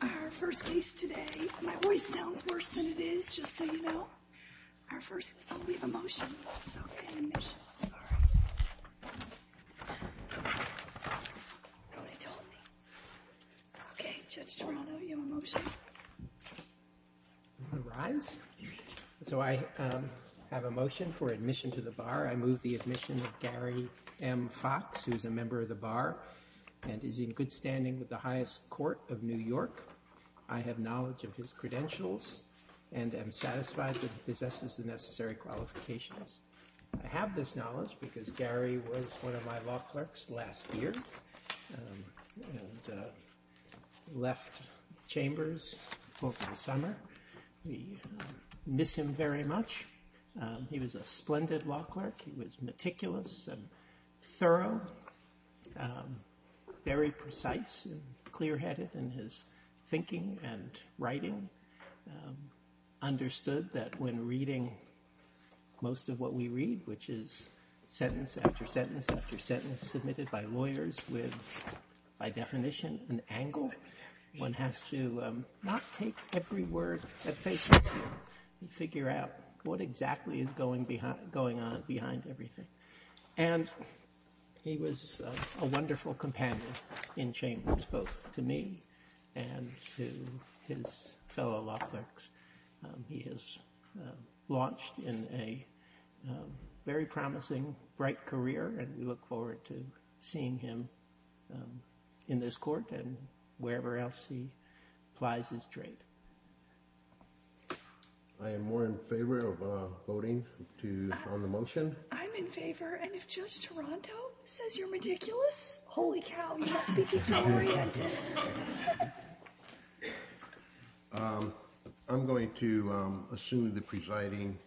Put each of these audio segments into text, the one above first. Our first case today, my voice sounds worse than it is, just so you know, I'll leave a motion, not an admission, sorry. Nobody told me. Okay, Judge Toronto, you have a motion? All rise. So I have a motion for admission to the Bar. I move the admission of Gary M. Fox, who is a member of the Bar and is in good standing with the highest court of New York. I have knowledge of his credentials and am satisfied that he possesses the necessary qualifications. I have this knowledge because Gary was one of my law clerks last year and left Chambers over the summer. We miss him very much. He was a splendid law clerk. He was meticulous and thorough, very precise and clear-headed in his thinking and writing. He understood that when reading most of what we read, which is sentence after sentence after sentence submitted by lawyers with, by definition, an angle, one has to not take every word at face value and figure out what exactly is going on behind everything. And he was a wonderful companion in Chambers, both to me and to his fellow law clerks. He has launched in a very promising, bright career, and we look forward to seeing him in this court and wherever else he applies his trade. I am more in favor of voting on the motion. I'm in favor, and if Judge Toronto says you're meticulous, holy cow, you must be deteriorated. I'm going to assume the presiding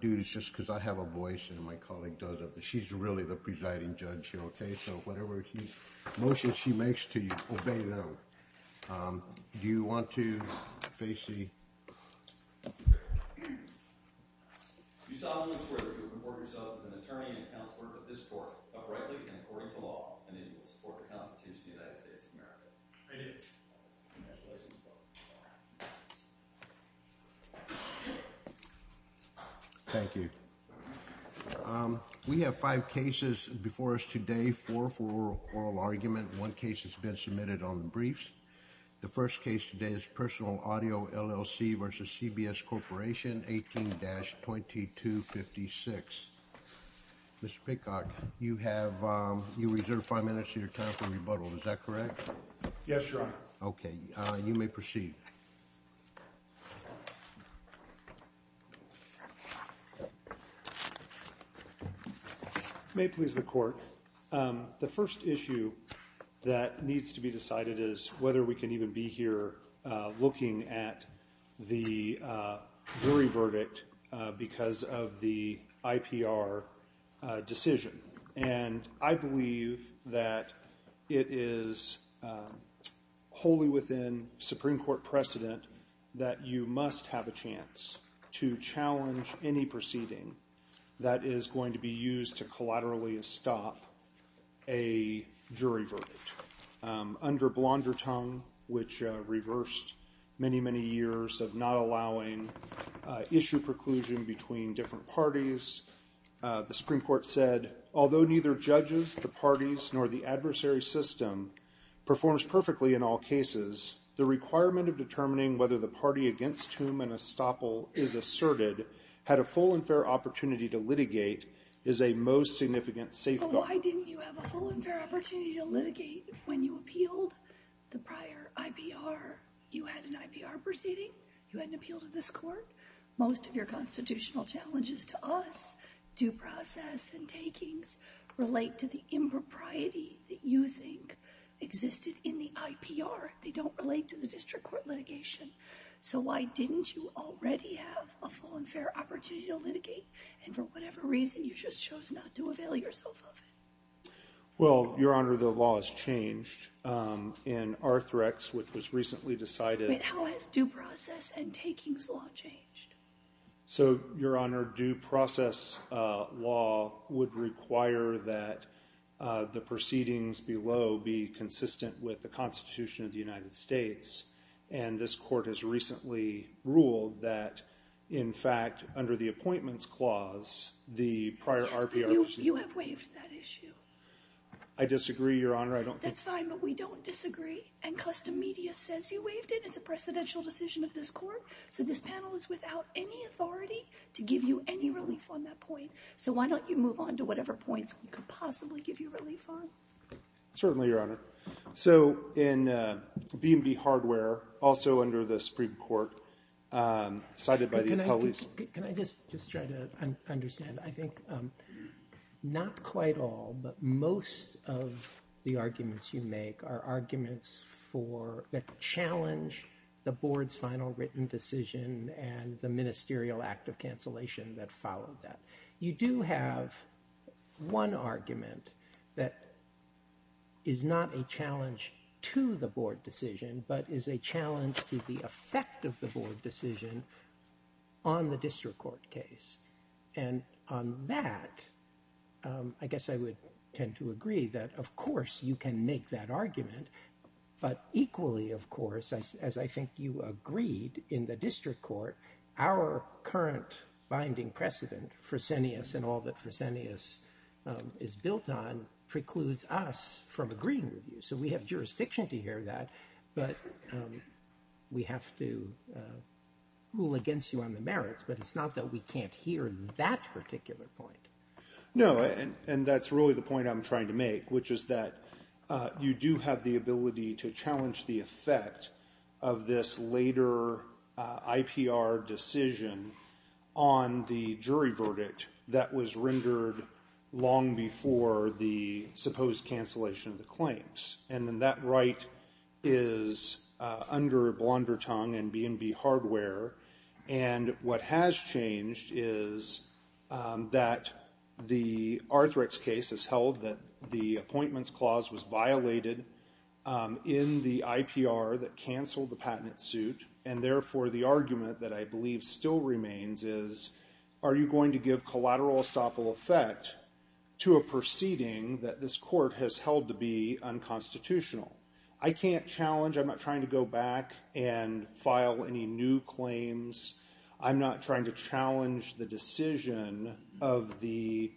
dude is just because I have a voice and my colleague doesn't, but she's really the presiding judge here, okay? So whatever motion she makes to you, obey them. Do you want to, Facey? You solemnly swear to report yourself as an attorney and counselor to this court, uprightly and according to law, and that you will support the Constitution of the United States of America. I do. Congratulations. Thank you. We have five cases before us today, four for oral argument. One case has been submitted on the briefs. The first case today is Personal Audio, LLC v. CBS Corporation, 18-2256. Mr. Peacock, you have reserved five minutes of your time for rebuttal. Is that correct? Yes, Your Honor. Okay. You may proceed. It may please the court. The first issue that needs to be decided is whether we can even be here looking at the jury verdict because of the IPR decision. And I believe that it is wholly within Supreme Court precedent that you must have a chance to challenge any proceeding that is going to be used to collaterally stop a jury verdict. Under Blondertongue, which reversed many, many years of not allowing issue preclusion between different parties, the Supreme Court said, although neither judges, the parties, nor the adversary system performs perfectly in all cases, the requirement of determining whether the party against whom an estoppel is asserted had a full and fair opportunity to litigate is a most significant safeguard. But why didn't you have a full and fair opportunity to litigate when you appealed the prior IPR? You had an IPR proceeding. You had an appeal to this court. Most of your constitutional challenges to us, due process and takings, relate to the impropriety that you think existed in the IPR. They don't relate to the district court litigation. So why didn't you already have a full and fair opportunity to litigate? And for whatever reason, you just chose not to avail yourself of it. Well, Your Honor, the law has changed in Arthrex, which was recently decided. But how has due process and takings law changed? So, Your Honor, due process law would require that the proceedings below be consistent with the Constitution of the United States. And this court has recently ruled that, in fact, under the appointments clause, the prior RPR. You have waived that issue. I disagree, Your Honor. That's fine, but we don't disagree. And custom media says you waived it. It's a presidential decision of this court. So this panel is without any authority to give you any relief on that point. So why don't you move on to whatever points we could possibly give you relief on? Certainly, Your Honor. So in B&B Hardware, also under the Supreme Court, cited by the appellees. Can I just try to understand? I think not quite all, but most of the arguments you make are arguments that challenge the board's final written decision and the ministerial act of cancellation that followed that. You do have one argument that is not a challenge to the board decision, but is a challenge to the effect of the board decision on the district court case. And on that, I guess I would tend to agree that, of course, you can make that argument. But equally, of course, as I think you agreed in the district court, our current binding precedent, Fresenius and all that Fresenius is built on, precludes us from agreeing with you. So we have jurisdiction to hear that, but we have to rule against you on the merits. But it's not that we can't hear that particular point. No, and that's really the point I'm trying to make, which is that you do have the ability to challenge the effect of this later IPR decision on the jury verdict that was rendered long before the supposed cancellation of the claims. And then that right is under Blondertongue and B&B Hardware. And what has changed is that the Arthrex case has held that the appointments clause was violated in the IPR that canceled the patent suit. And therefore, the argument that I believe still remains is, are you going to give collateral estoppel effect to a proceeding that this court has held to be unconstitutional? I can't challenge, I'm not trying to go back and file any new claims. I'm not trying to challenge the decision of the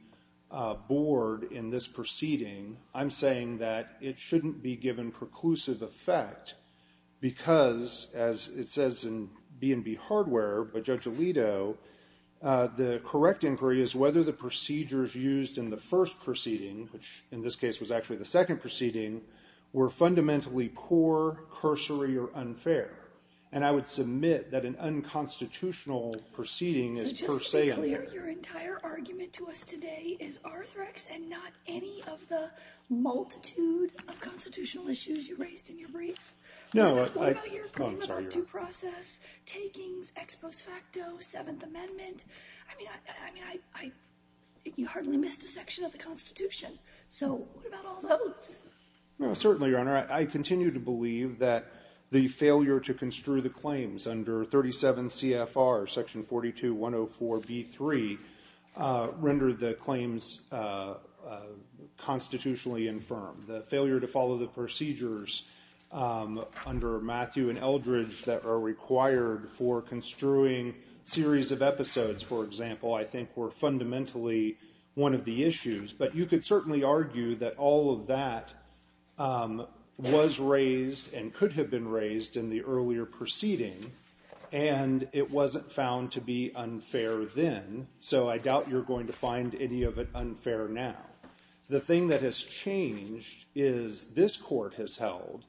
board in this proceeding. I'm saying that it shouldn't be given preclusive effect because, as it says in B&B Hardware by Judge Alito, the correct inquiry is whether the procedures used in the first proceeding, which in this case was actually the second proceeding, were fundamentally poor, cursory, or unfair. And I would submit that an unconstitutional proceeding is per se unfair. So just to be clear, your entire argument to us today is Arthrex and not any of the multitude of constitutional issues you raised in your brief? No. What about your claim about due process, takings, ex post facto, Seventh Amendment? I mean, you hardly missed a section of the Constitution. So what about all those? No, certainly, Your Honor. I continue to believe that the failure to construe the claims under 37 CFR Section 42-104B3 rendered the claims constitutionally infirm. The failure to follow the procedures under Matthew and Eldridge that are required for construing series of episodes, for example, I think were fundamentally one of the issues. But you could certainly argue that all of that was raised and could have been raised in the earlier proceeding, and it wasn't found to be unfair then, so I doubt you're going to find any of it unfair now. The thing that has changed is this court has held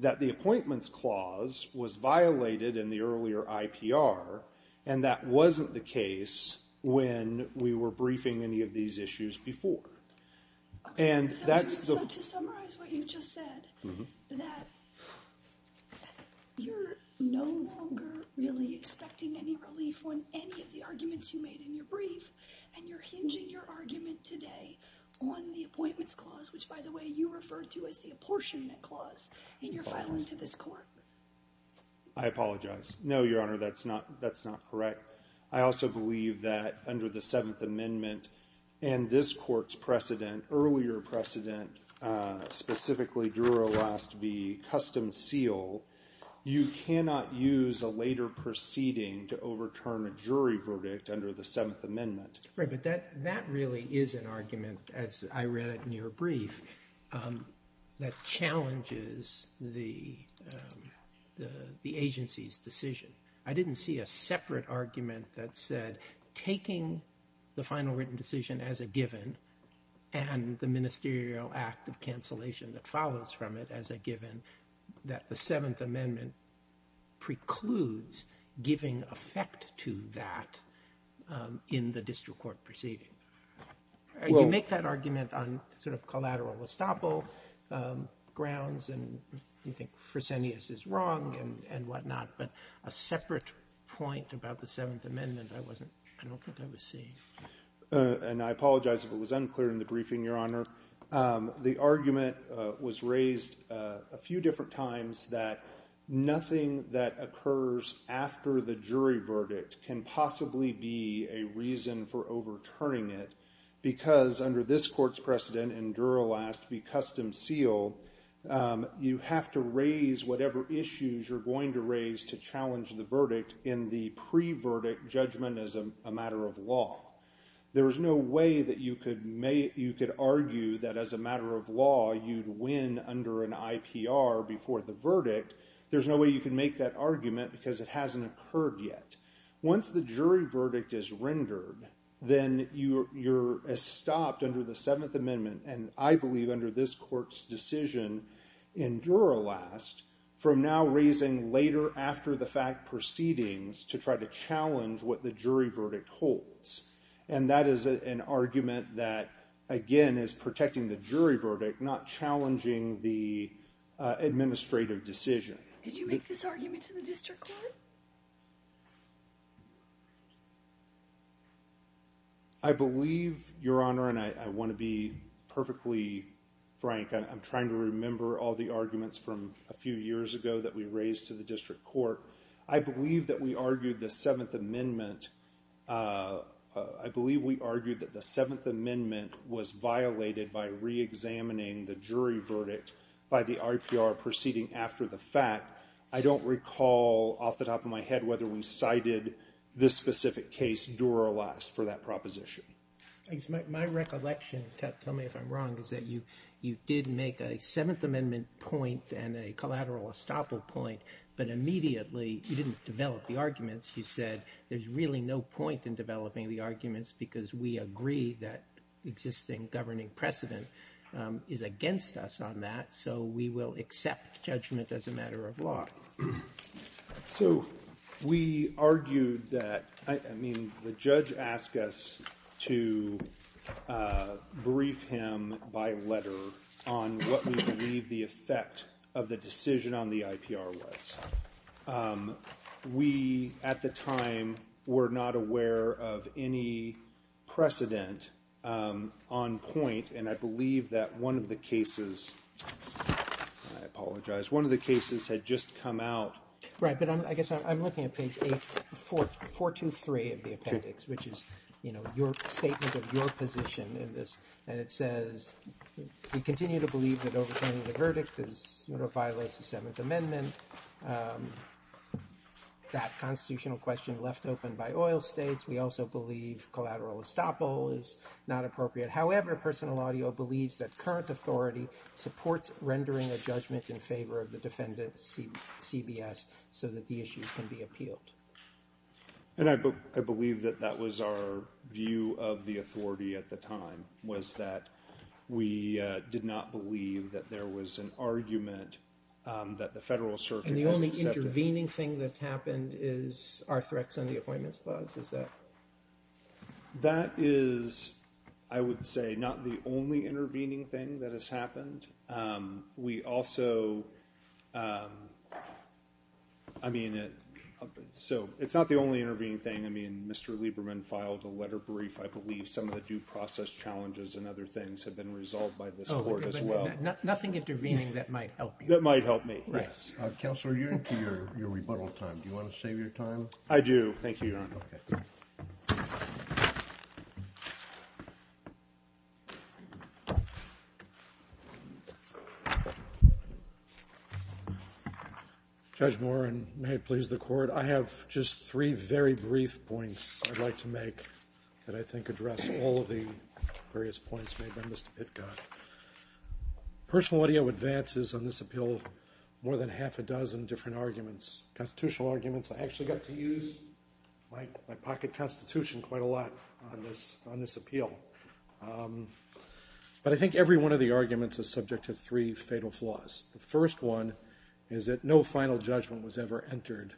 that the appointments clause was violated in the earlier IPR, and that wasn't the case when we were briefing any of these issues before. And that's the... So to summarize what you just said, that you're no longer really expecting any relief on any of the arguments you made in your brief, and you're hinging your argument today on the appointments clause, which, by the way, you referred to as the apportionment clause in your filing to this court. I apologize. No, Your Honor, that's not correct. I also believe that under the Seventh Amendment and this court's precedent, earlier precedent, specifically Druro last v. Customs Seal, you cannot use a later proceeding to overturn a jury verdict under the Seventh Amendment. Right, but that really is an argument, as I read it in your brief, that challenges the agency's decision. I didn't see a separate argument that said taking the final written decision as a given and the ministerial act of cancellation that follows from it as a given, that the Seventh Amendment precludes giving effect to that in the district court proceeding. You make that argument on sort of collateral estoppel grounds, and you think Fresenius is wrong and whatnot, but a separate point about the Seventh Amendment I don't think I was seeing. And I apologize if it was unclear in the briefing, Your Honor. The argument was raised a few different times that nothing that occurs after the jury verdict can possibly be a reason for overturning it because under this court's precedent and Druro last v. Customs Seal, you have to raise whatever issues you're going to raise to challenge the verdict in the pre-verdict judgment as a matter of law. There is no way that you could argue that as a matter of law you'd win under an IPR before the verdict. There's no way you can make that argument because it hasn't occurred yet. Once the jury verdict is rendered, then you're stopped under the Seventh Amendment, and I believe under this court's decision in Druro last, from now raising later after the fact proceedings to try to challenge what the jury verdict holds. And that is an argument that, again, is protecting the jury verdict, not challenging the administrative decision. Did you make this argument to the district court? I believe, Your Honor, and I want to be perfectly frank. I'm trying to remember all the arguments from a few years ago that we raised to the district court. I believe that we argued the Seventh Amendment. I believe we argued that the Seventh Amendment was violated by reexamining the jury verdict by the IPR proceeding after the fact. I don't recall off the top of my head whether we cited this specific case, Druro last, for that proposition. My recollection, tell me if I'm wrong, is that you did make a Seventh Amendment point and a collateral estoppel point, but immediately you didn't develop the arguments. You said there's really no point in developing the arguments because we agree that existing governing precedent is against us on that, so we will accept judgment as a matter of law. So we argued that—I mean, the judge asked us to brief him by letter on what we believe the effect of the decision on the IPR was. We, at the time, were not aware of any precedent on point, and I believe that one of the cases—I apologize. One of the cases had just come out. Right, but I guess I'm looking at page 423 of the appendix, which is, you know, your statement of your position in this, and it says we continue to believe that overturning the verdict violates the Seventh Amendment. That constitutional question left open by oil states. We also believe collateral estoppel is not appropriate. However, personal audio believes that current authority supports rendering a judgment in favor of the defendant's CBS so that the issues can be appealed. And I believe that that was our view of the authority at the time, was that we did not believe that there was an argument that the Federal Circuit had accepted. And the only intervening thing that's happened is our threats on the appointments clause, is that? That is, I would say, not the only intervening thing that has happened. We also—I mean, so it's not the only intervening thing. I mean, Mr. Lieberman filed a letter brief. I believe some of the due process challenges and other things have been resolved by this Court as well. Nothing intervening that might help you. That might help me, yes. Counselor, you're into your rebuttal time. Do you want to save your time? I do. Thank you, Your Honor. Judge Morin, may it please the Court. I have just three very brief points I'd like to make that I think address all of the various points made by Mr. Pitkoff. Personal audio advances on this appeal more than half a dozen different arguments, constitutional arguments. I actually got to use my pocket constitution quite a lot on this appeal. But I think every one of the arguments is subject to three fatal flaws. The first one is that no final judgment was ever entered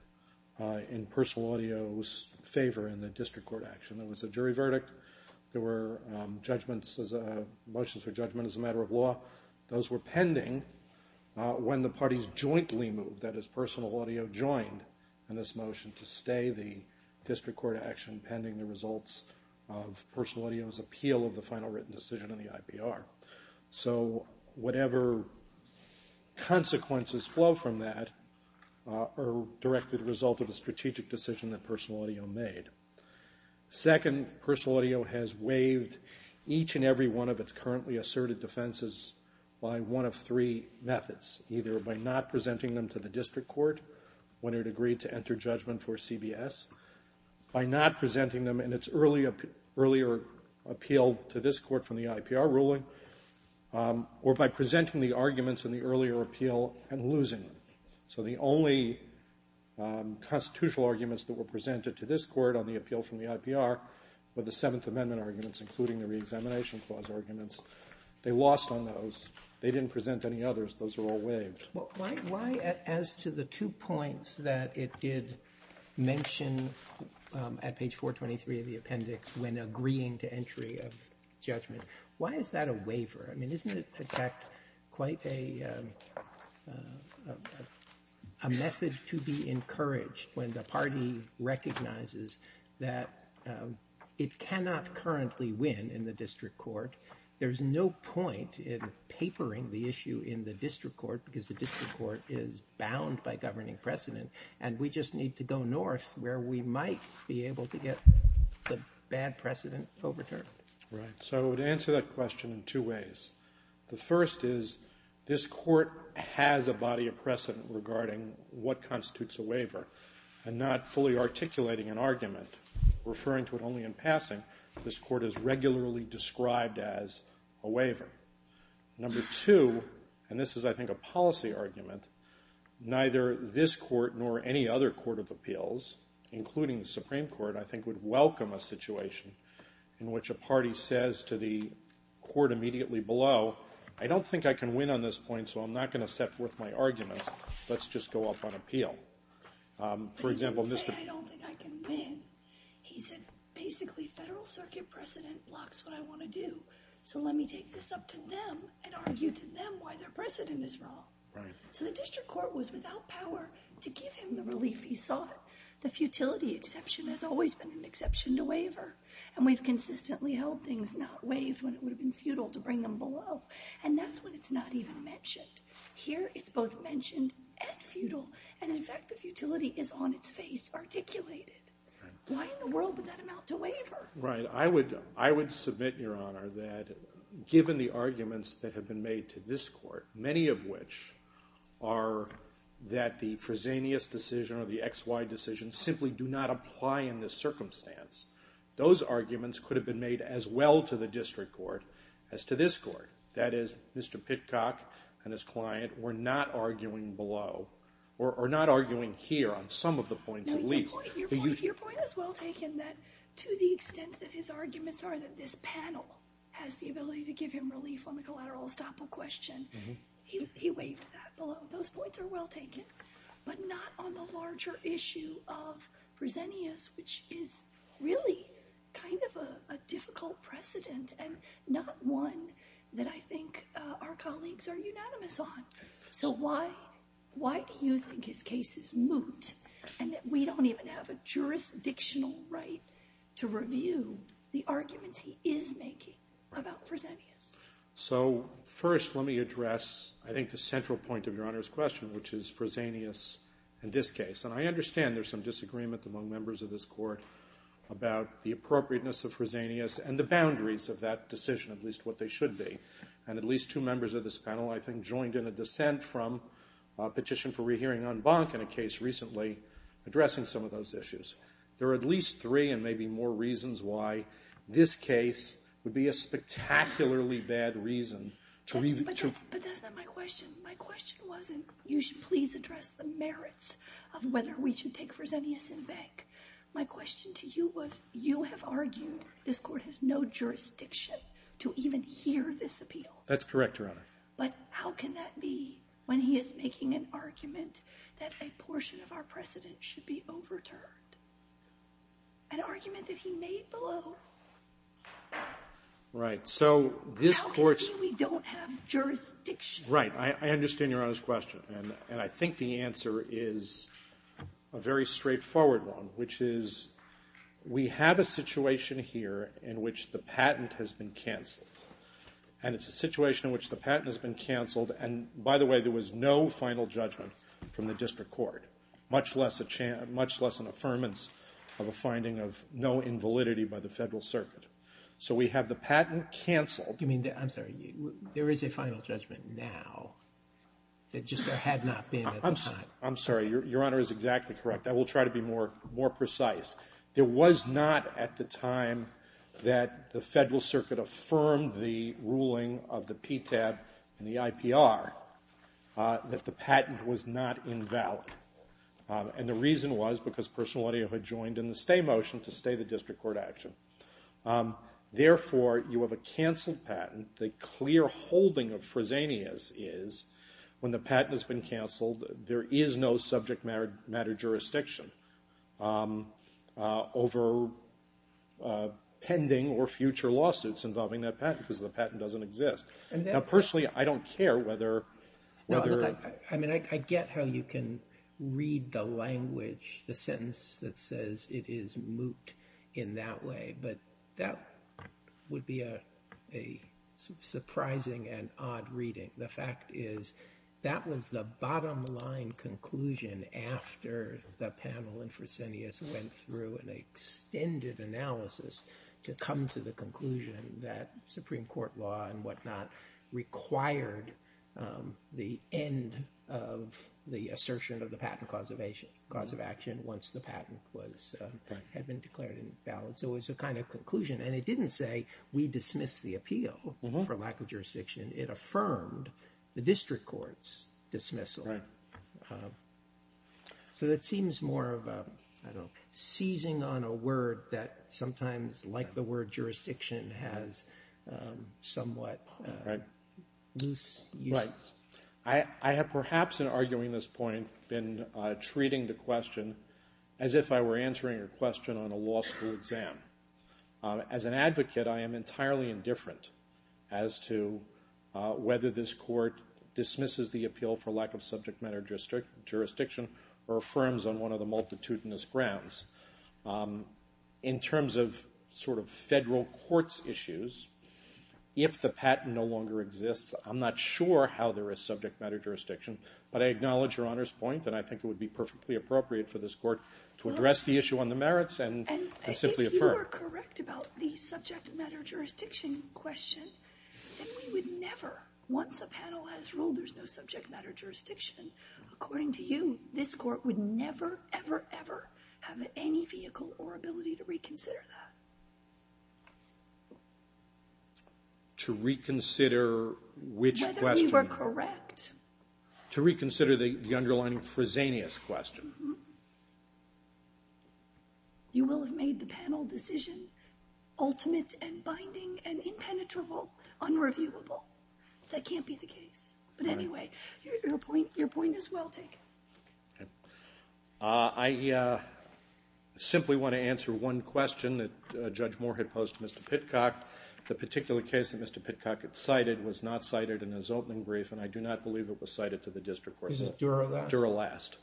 in personal audio's favor in the district court action. There was a jury verdict. There were judgments, motions for judgment as a matter of law. Those were pending when the parties jointly moved, that is personal audio joined in this motion to stay the district court action pending the results of personal audio's appeal of the final written decision in the IPR. So whatever consequences flow from that are directly the result of a strategic decision that personal audio made. Second, personal audio has waived each and every one of its currently asserted defenses by one of three methods, either by not presenting them to the district court when it agreed to enter judgment for CBS, by not presenting them in its earlier appeal to this court from the IPR ruling, or by presenting the arguments in the earlier appeal and losing them. So the only constitutional arguments that were presented to this court on the appeal from the IPR were the Seventh Amendment arguments, including the Reexamination Clause arguments. They lost on those. They didn't present any others. Those were all waived. Why, as to the two points that it did mention at page 423 of the appendix, when agreeing to entry of judgment, why is that a waiver? I mean, isn't it, in fact, quite a method to be encouraged when the party recognizes that it cannot currently win in the district court. There's no point in papering the issue in the district court because the district court is bound by governing precedent, and we just need to go north where we might be able to get the bad precedent overturned. Right. So to answer that question in two ways, the first is this court has a body of precedent regarding what constitutes a waiver, and not fully articulating an argument, referring to it only in passing, this court is regularly described as a waiver. Number two, and this is, I think, a policy argument, neither this court nor any other court of appeals, including the Supreme Court, I think, would welcome a situation in which a party says to the court immediately below, I don't think I can win on this point, so I'm not going to set forth my arguments. Let's just go up on appeal. For example, Mr. But he didn't say, I don't think I can win. He said, basically, federal circuit precedent blocks what I want to do, so let me take this up to them and argue to them why their precedent is wrong. So the district court was without power to give him the relief he sought. The futility exception has always been an exception to waiver, and we've consistently held things not waived when it would have been futile to bring them below, and that's when it's not even mentioned. Here it's both mentioned and futile, and, in fact, the futility is on its face, articulated. Why in the world would that amount to waiver? Right. I would submit, Your Honor, that given the arguments that have been made to this court, many of which are that the Fresenius decision or the XY decision simply do not apply in this circumstance, those arguments could have been made as well to the district court as to this court. That is, Mr. Pitcock and his client were not arguing below or not arguing here on some of the points at least. Your point is well taken that to the extent that his arguments are that this panel has the ability to give him relief on the collateral estoppel question, he waived that below. Those points are well taken, but not on the larger issue of Fresenius, which is really kind of a difficult precedent and not one that I think our colleagues are unanimous on. So why do you think his case is moot and that we don't even have a jurisdictional right to review the arguments he is making about Fresenius? So first let me address I think the central point of Your Honor's question, which is Fresenius in this case. And I understand there's some disagreement among members of this court about the appropriateness of Fresenius and the boundaries of that decision, at least what they should be. And at least two members of this panel I think joined in a dissent from a petition for rehearing en banc in a case recently addressing some of those issues. There are at least three and maybe more reasons why this case would be a spectacularly bad reason to review. But that's not my question. My question wasn't you should please address the merits of whether we should take Fresenius in bank. My question to you was you have argued this court has no jurisdiction to even hear this appeal. That's correct, Your Honor. But how can that be when he is making an argument that a portion of our precedent should be overturned, an argument that he made below? Right. How can it be we don't have jurisdiction? Right. I understand Your Honor's question. And I think the answer is a very straightforward one, which is we have a situation here in which the patent has been canceled. And it's a situation in which the patent has been canceled. And, by the way, there was no final judgment from the district court, much less an affirmance of a finding of no invalidity by the Federal Circuit. So we have the patent canceled. I'm sorry. There is a final judgment now. It just had not been at the time. I'm sorry. Your Honor is exactly correct. I will try to be more precise. There was not at the time that the Federal Circuit affirmed the ruling of the PTAB and the IPR that the patent was not invalid. And the reason was because personal identity had joined in the stay motion to stay the district court action. Therefore, you have a canceled patent. The clear holding of Fresenius is when the patent has been canceled, there is no subject matter jurisdiction over pending or future lawsuits involving that patent because the patent doesn't exist. Now, personally, I don't care whether or not. I mean, I get how you can read the language, the sentence that says it is moot in that way, but that would be a surprising and odd reading. The fact is that was the bottom line conclusion after the panel and Fresenius went through an extended analysis to come to the conclusion that Supreme Court law and whatnot required the end of the assertion of the patent cause of action once the patent had been declared invalid. So it was a kind of conclusion. And it didn't say we dismiss the appeal for lack of jurisdiction. It affirmed the district court's dismissal. So it seems more of a seizing on a word that sometimes, like the word jurisdiction, has somewhat loose use. Right. I have perhaps in arguing this point been treating the question as if I were answering a question on a law school exam. As an advocate, I am entirely indifferent as to whether this court dismisses the appeal for lack of subject matter jurisdiction or affirms on one of the multitudinous grounds. In terms of sort of federal court's issues, if the patent no longer exists, I'm not sure how there is subject matter jurisdiction, but I acknowledge Your Honor's point, and I think it would be perfectly appropriate for this court to address the issue on the merits and simply affirm. And if you are correct about the subject matter jurisdiction question, then we would never, once a panel has ruled there's no subject matter jurisdiction, according to you, this court would never, ever, ever have any vehicle or ability to reconsider that. To reconsider which question? Whether we were correct. To reconsider the underlying Fresenius question. You will have made the panel decision ultimate and binding and impenetrable, unreviewable. That can't be the case. But anyway, your point is well taken. I simply want to answer one question that Judge Moore had posed to Mr. Pitcock. The particular case that Mr. Pitcock had cited was not cited in his opening brief, and I do not believe it was cited to the district court. Is it Dura Last? Dura Last.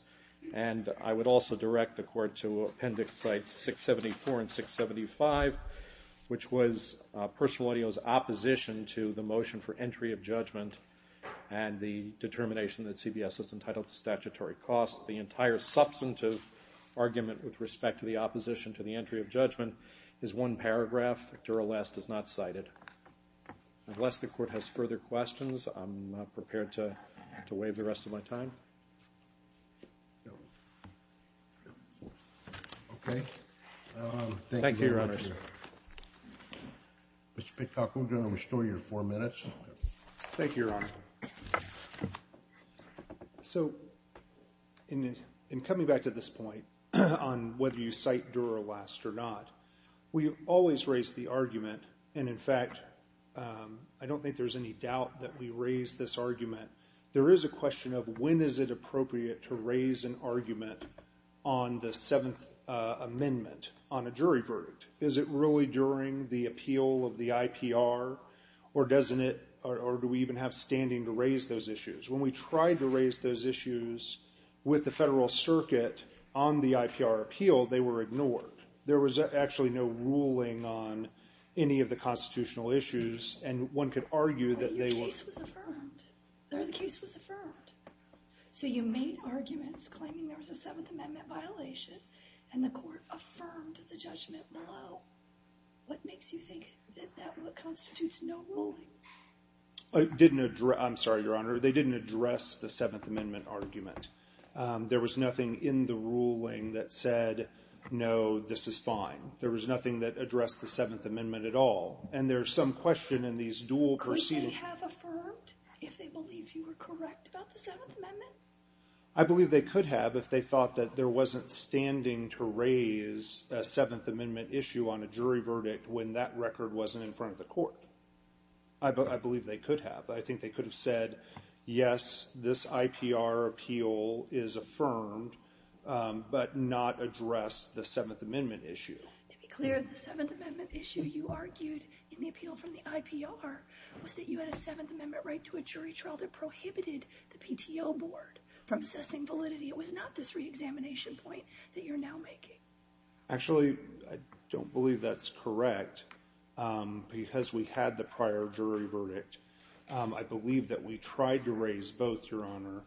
And I would also direct the court to Appendix Sites 674 and 675, which was personal audio's opposition to the motion for entry of judgment and the determination that CBS is entitled to statutory costs. The entire substantive argument with respect to the opposition to the entry of judgment is one paragraph. Dura Last is not cited. Unless the court has further questions, I'm not prepared to waive the rest of my time. Okay. Thank you, Your Honor. Thank you, Your Honor. Mr. Pitcock, I'm going to restore your four minutes. Thank you, Your Honor. So in coming back to this point on whether you cite Dura Last or not, we always raise the argument, and in fact, I don't think there's any doubt that we raise this argument. There is a question of when is it appropriate to raise an argument on the Seventh Amendment on a jury verdict. Is it really during the appeal of the IPR, or do we even have standing to raise those issues? When we tried to raise those issues with the federal circuit on the IPR appeal, they were ignored. There was actually no ruling on any of the constitutional issues, and one could argue that they were— But your case was affirmed. The case was affirmed. So you made arguments claiming there was a Seventh Amendment violation, and the court affirmed the judgment below. What makes you think that that constitutes no ruling? I'm sorry, Your Honor. They didn't address the Seventh Amendment argument. There was nothing in the ruling that said, no, this is fine. There was nothing that addressed the Seventh Amendment at all, and there's some question in these dual proceedings. Could they have affirmed if they believe you were correct about the Seventh Amendment? I believe they could have if they thought that there wasn't standing to raise a Seventh Amendment issue on a jury verdict when that record wasn't in front of the court. I believe they could have. I think they could have said, yes, this IPR appeal is affirmed, but not address the Seventh Amendment issue. To be clear, the Seventh Amendment issue you argued in the appeal from the IPR was that you had a Seventh Amendment right to a jury trial that prohibited the PTO board from assessing validity. It was not this reexamination point that you're now making. Actually, I don't believe that's correct because we had the prior jury verdict. I believe that we tried to raise both, Your Honor.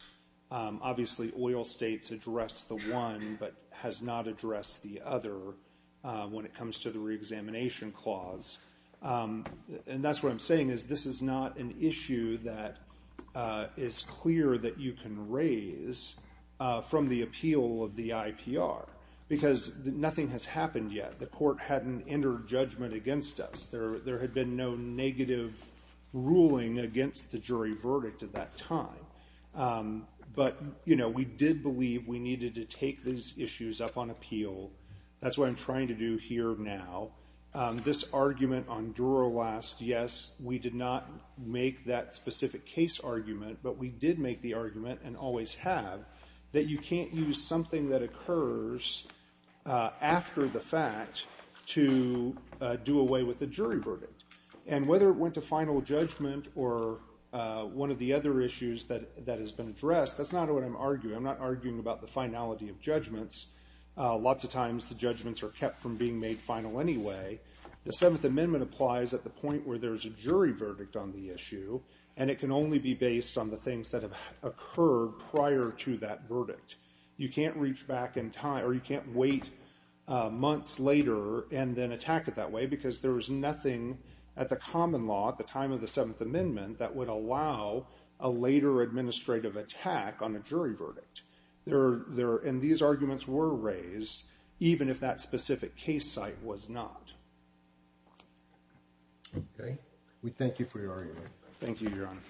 Obviously, oil states addressed the one but has not addressed the other when it comes to the reexamination clause. That's what I'm saying is this is not an issue that is clear that you can raise from the appeal of the IPR because nothing has happened yet. The court hadn't entered judgment against us. There had been no negative ruling against the jury verdict at that time, but we did believe we needed to take these issues up on appeal. That's what I'm trying to do here now. This argument on Dura last, yes, we did not make that specific case argument, but we did make the argument and always have that you can't use something that occurs after the fact to do away with the jury verdict. Whether it went to final judgment or one of the other issues that has been addressed, that's not what I'm arguing. I'm not arguing about the finality of judgments. Lots of times the judgments are kept from being made final anyway. The Seventh Amendment applies at the point where there's a jury verdict on the issue, and it can only be based on the things that have occurred prior to that verdict. You can't reach back in time or you can't wait months later and then attack it that way because there was nothing at the common law at the time of the Seventh Amendment that would allow a later administrative attack on a jury verdict. These arguments were raised even if that specific case site was not. Okay. We thank you for your argument. Thank you, Your Honor.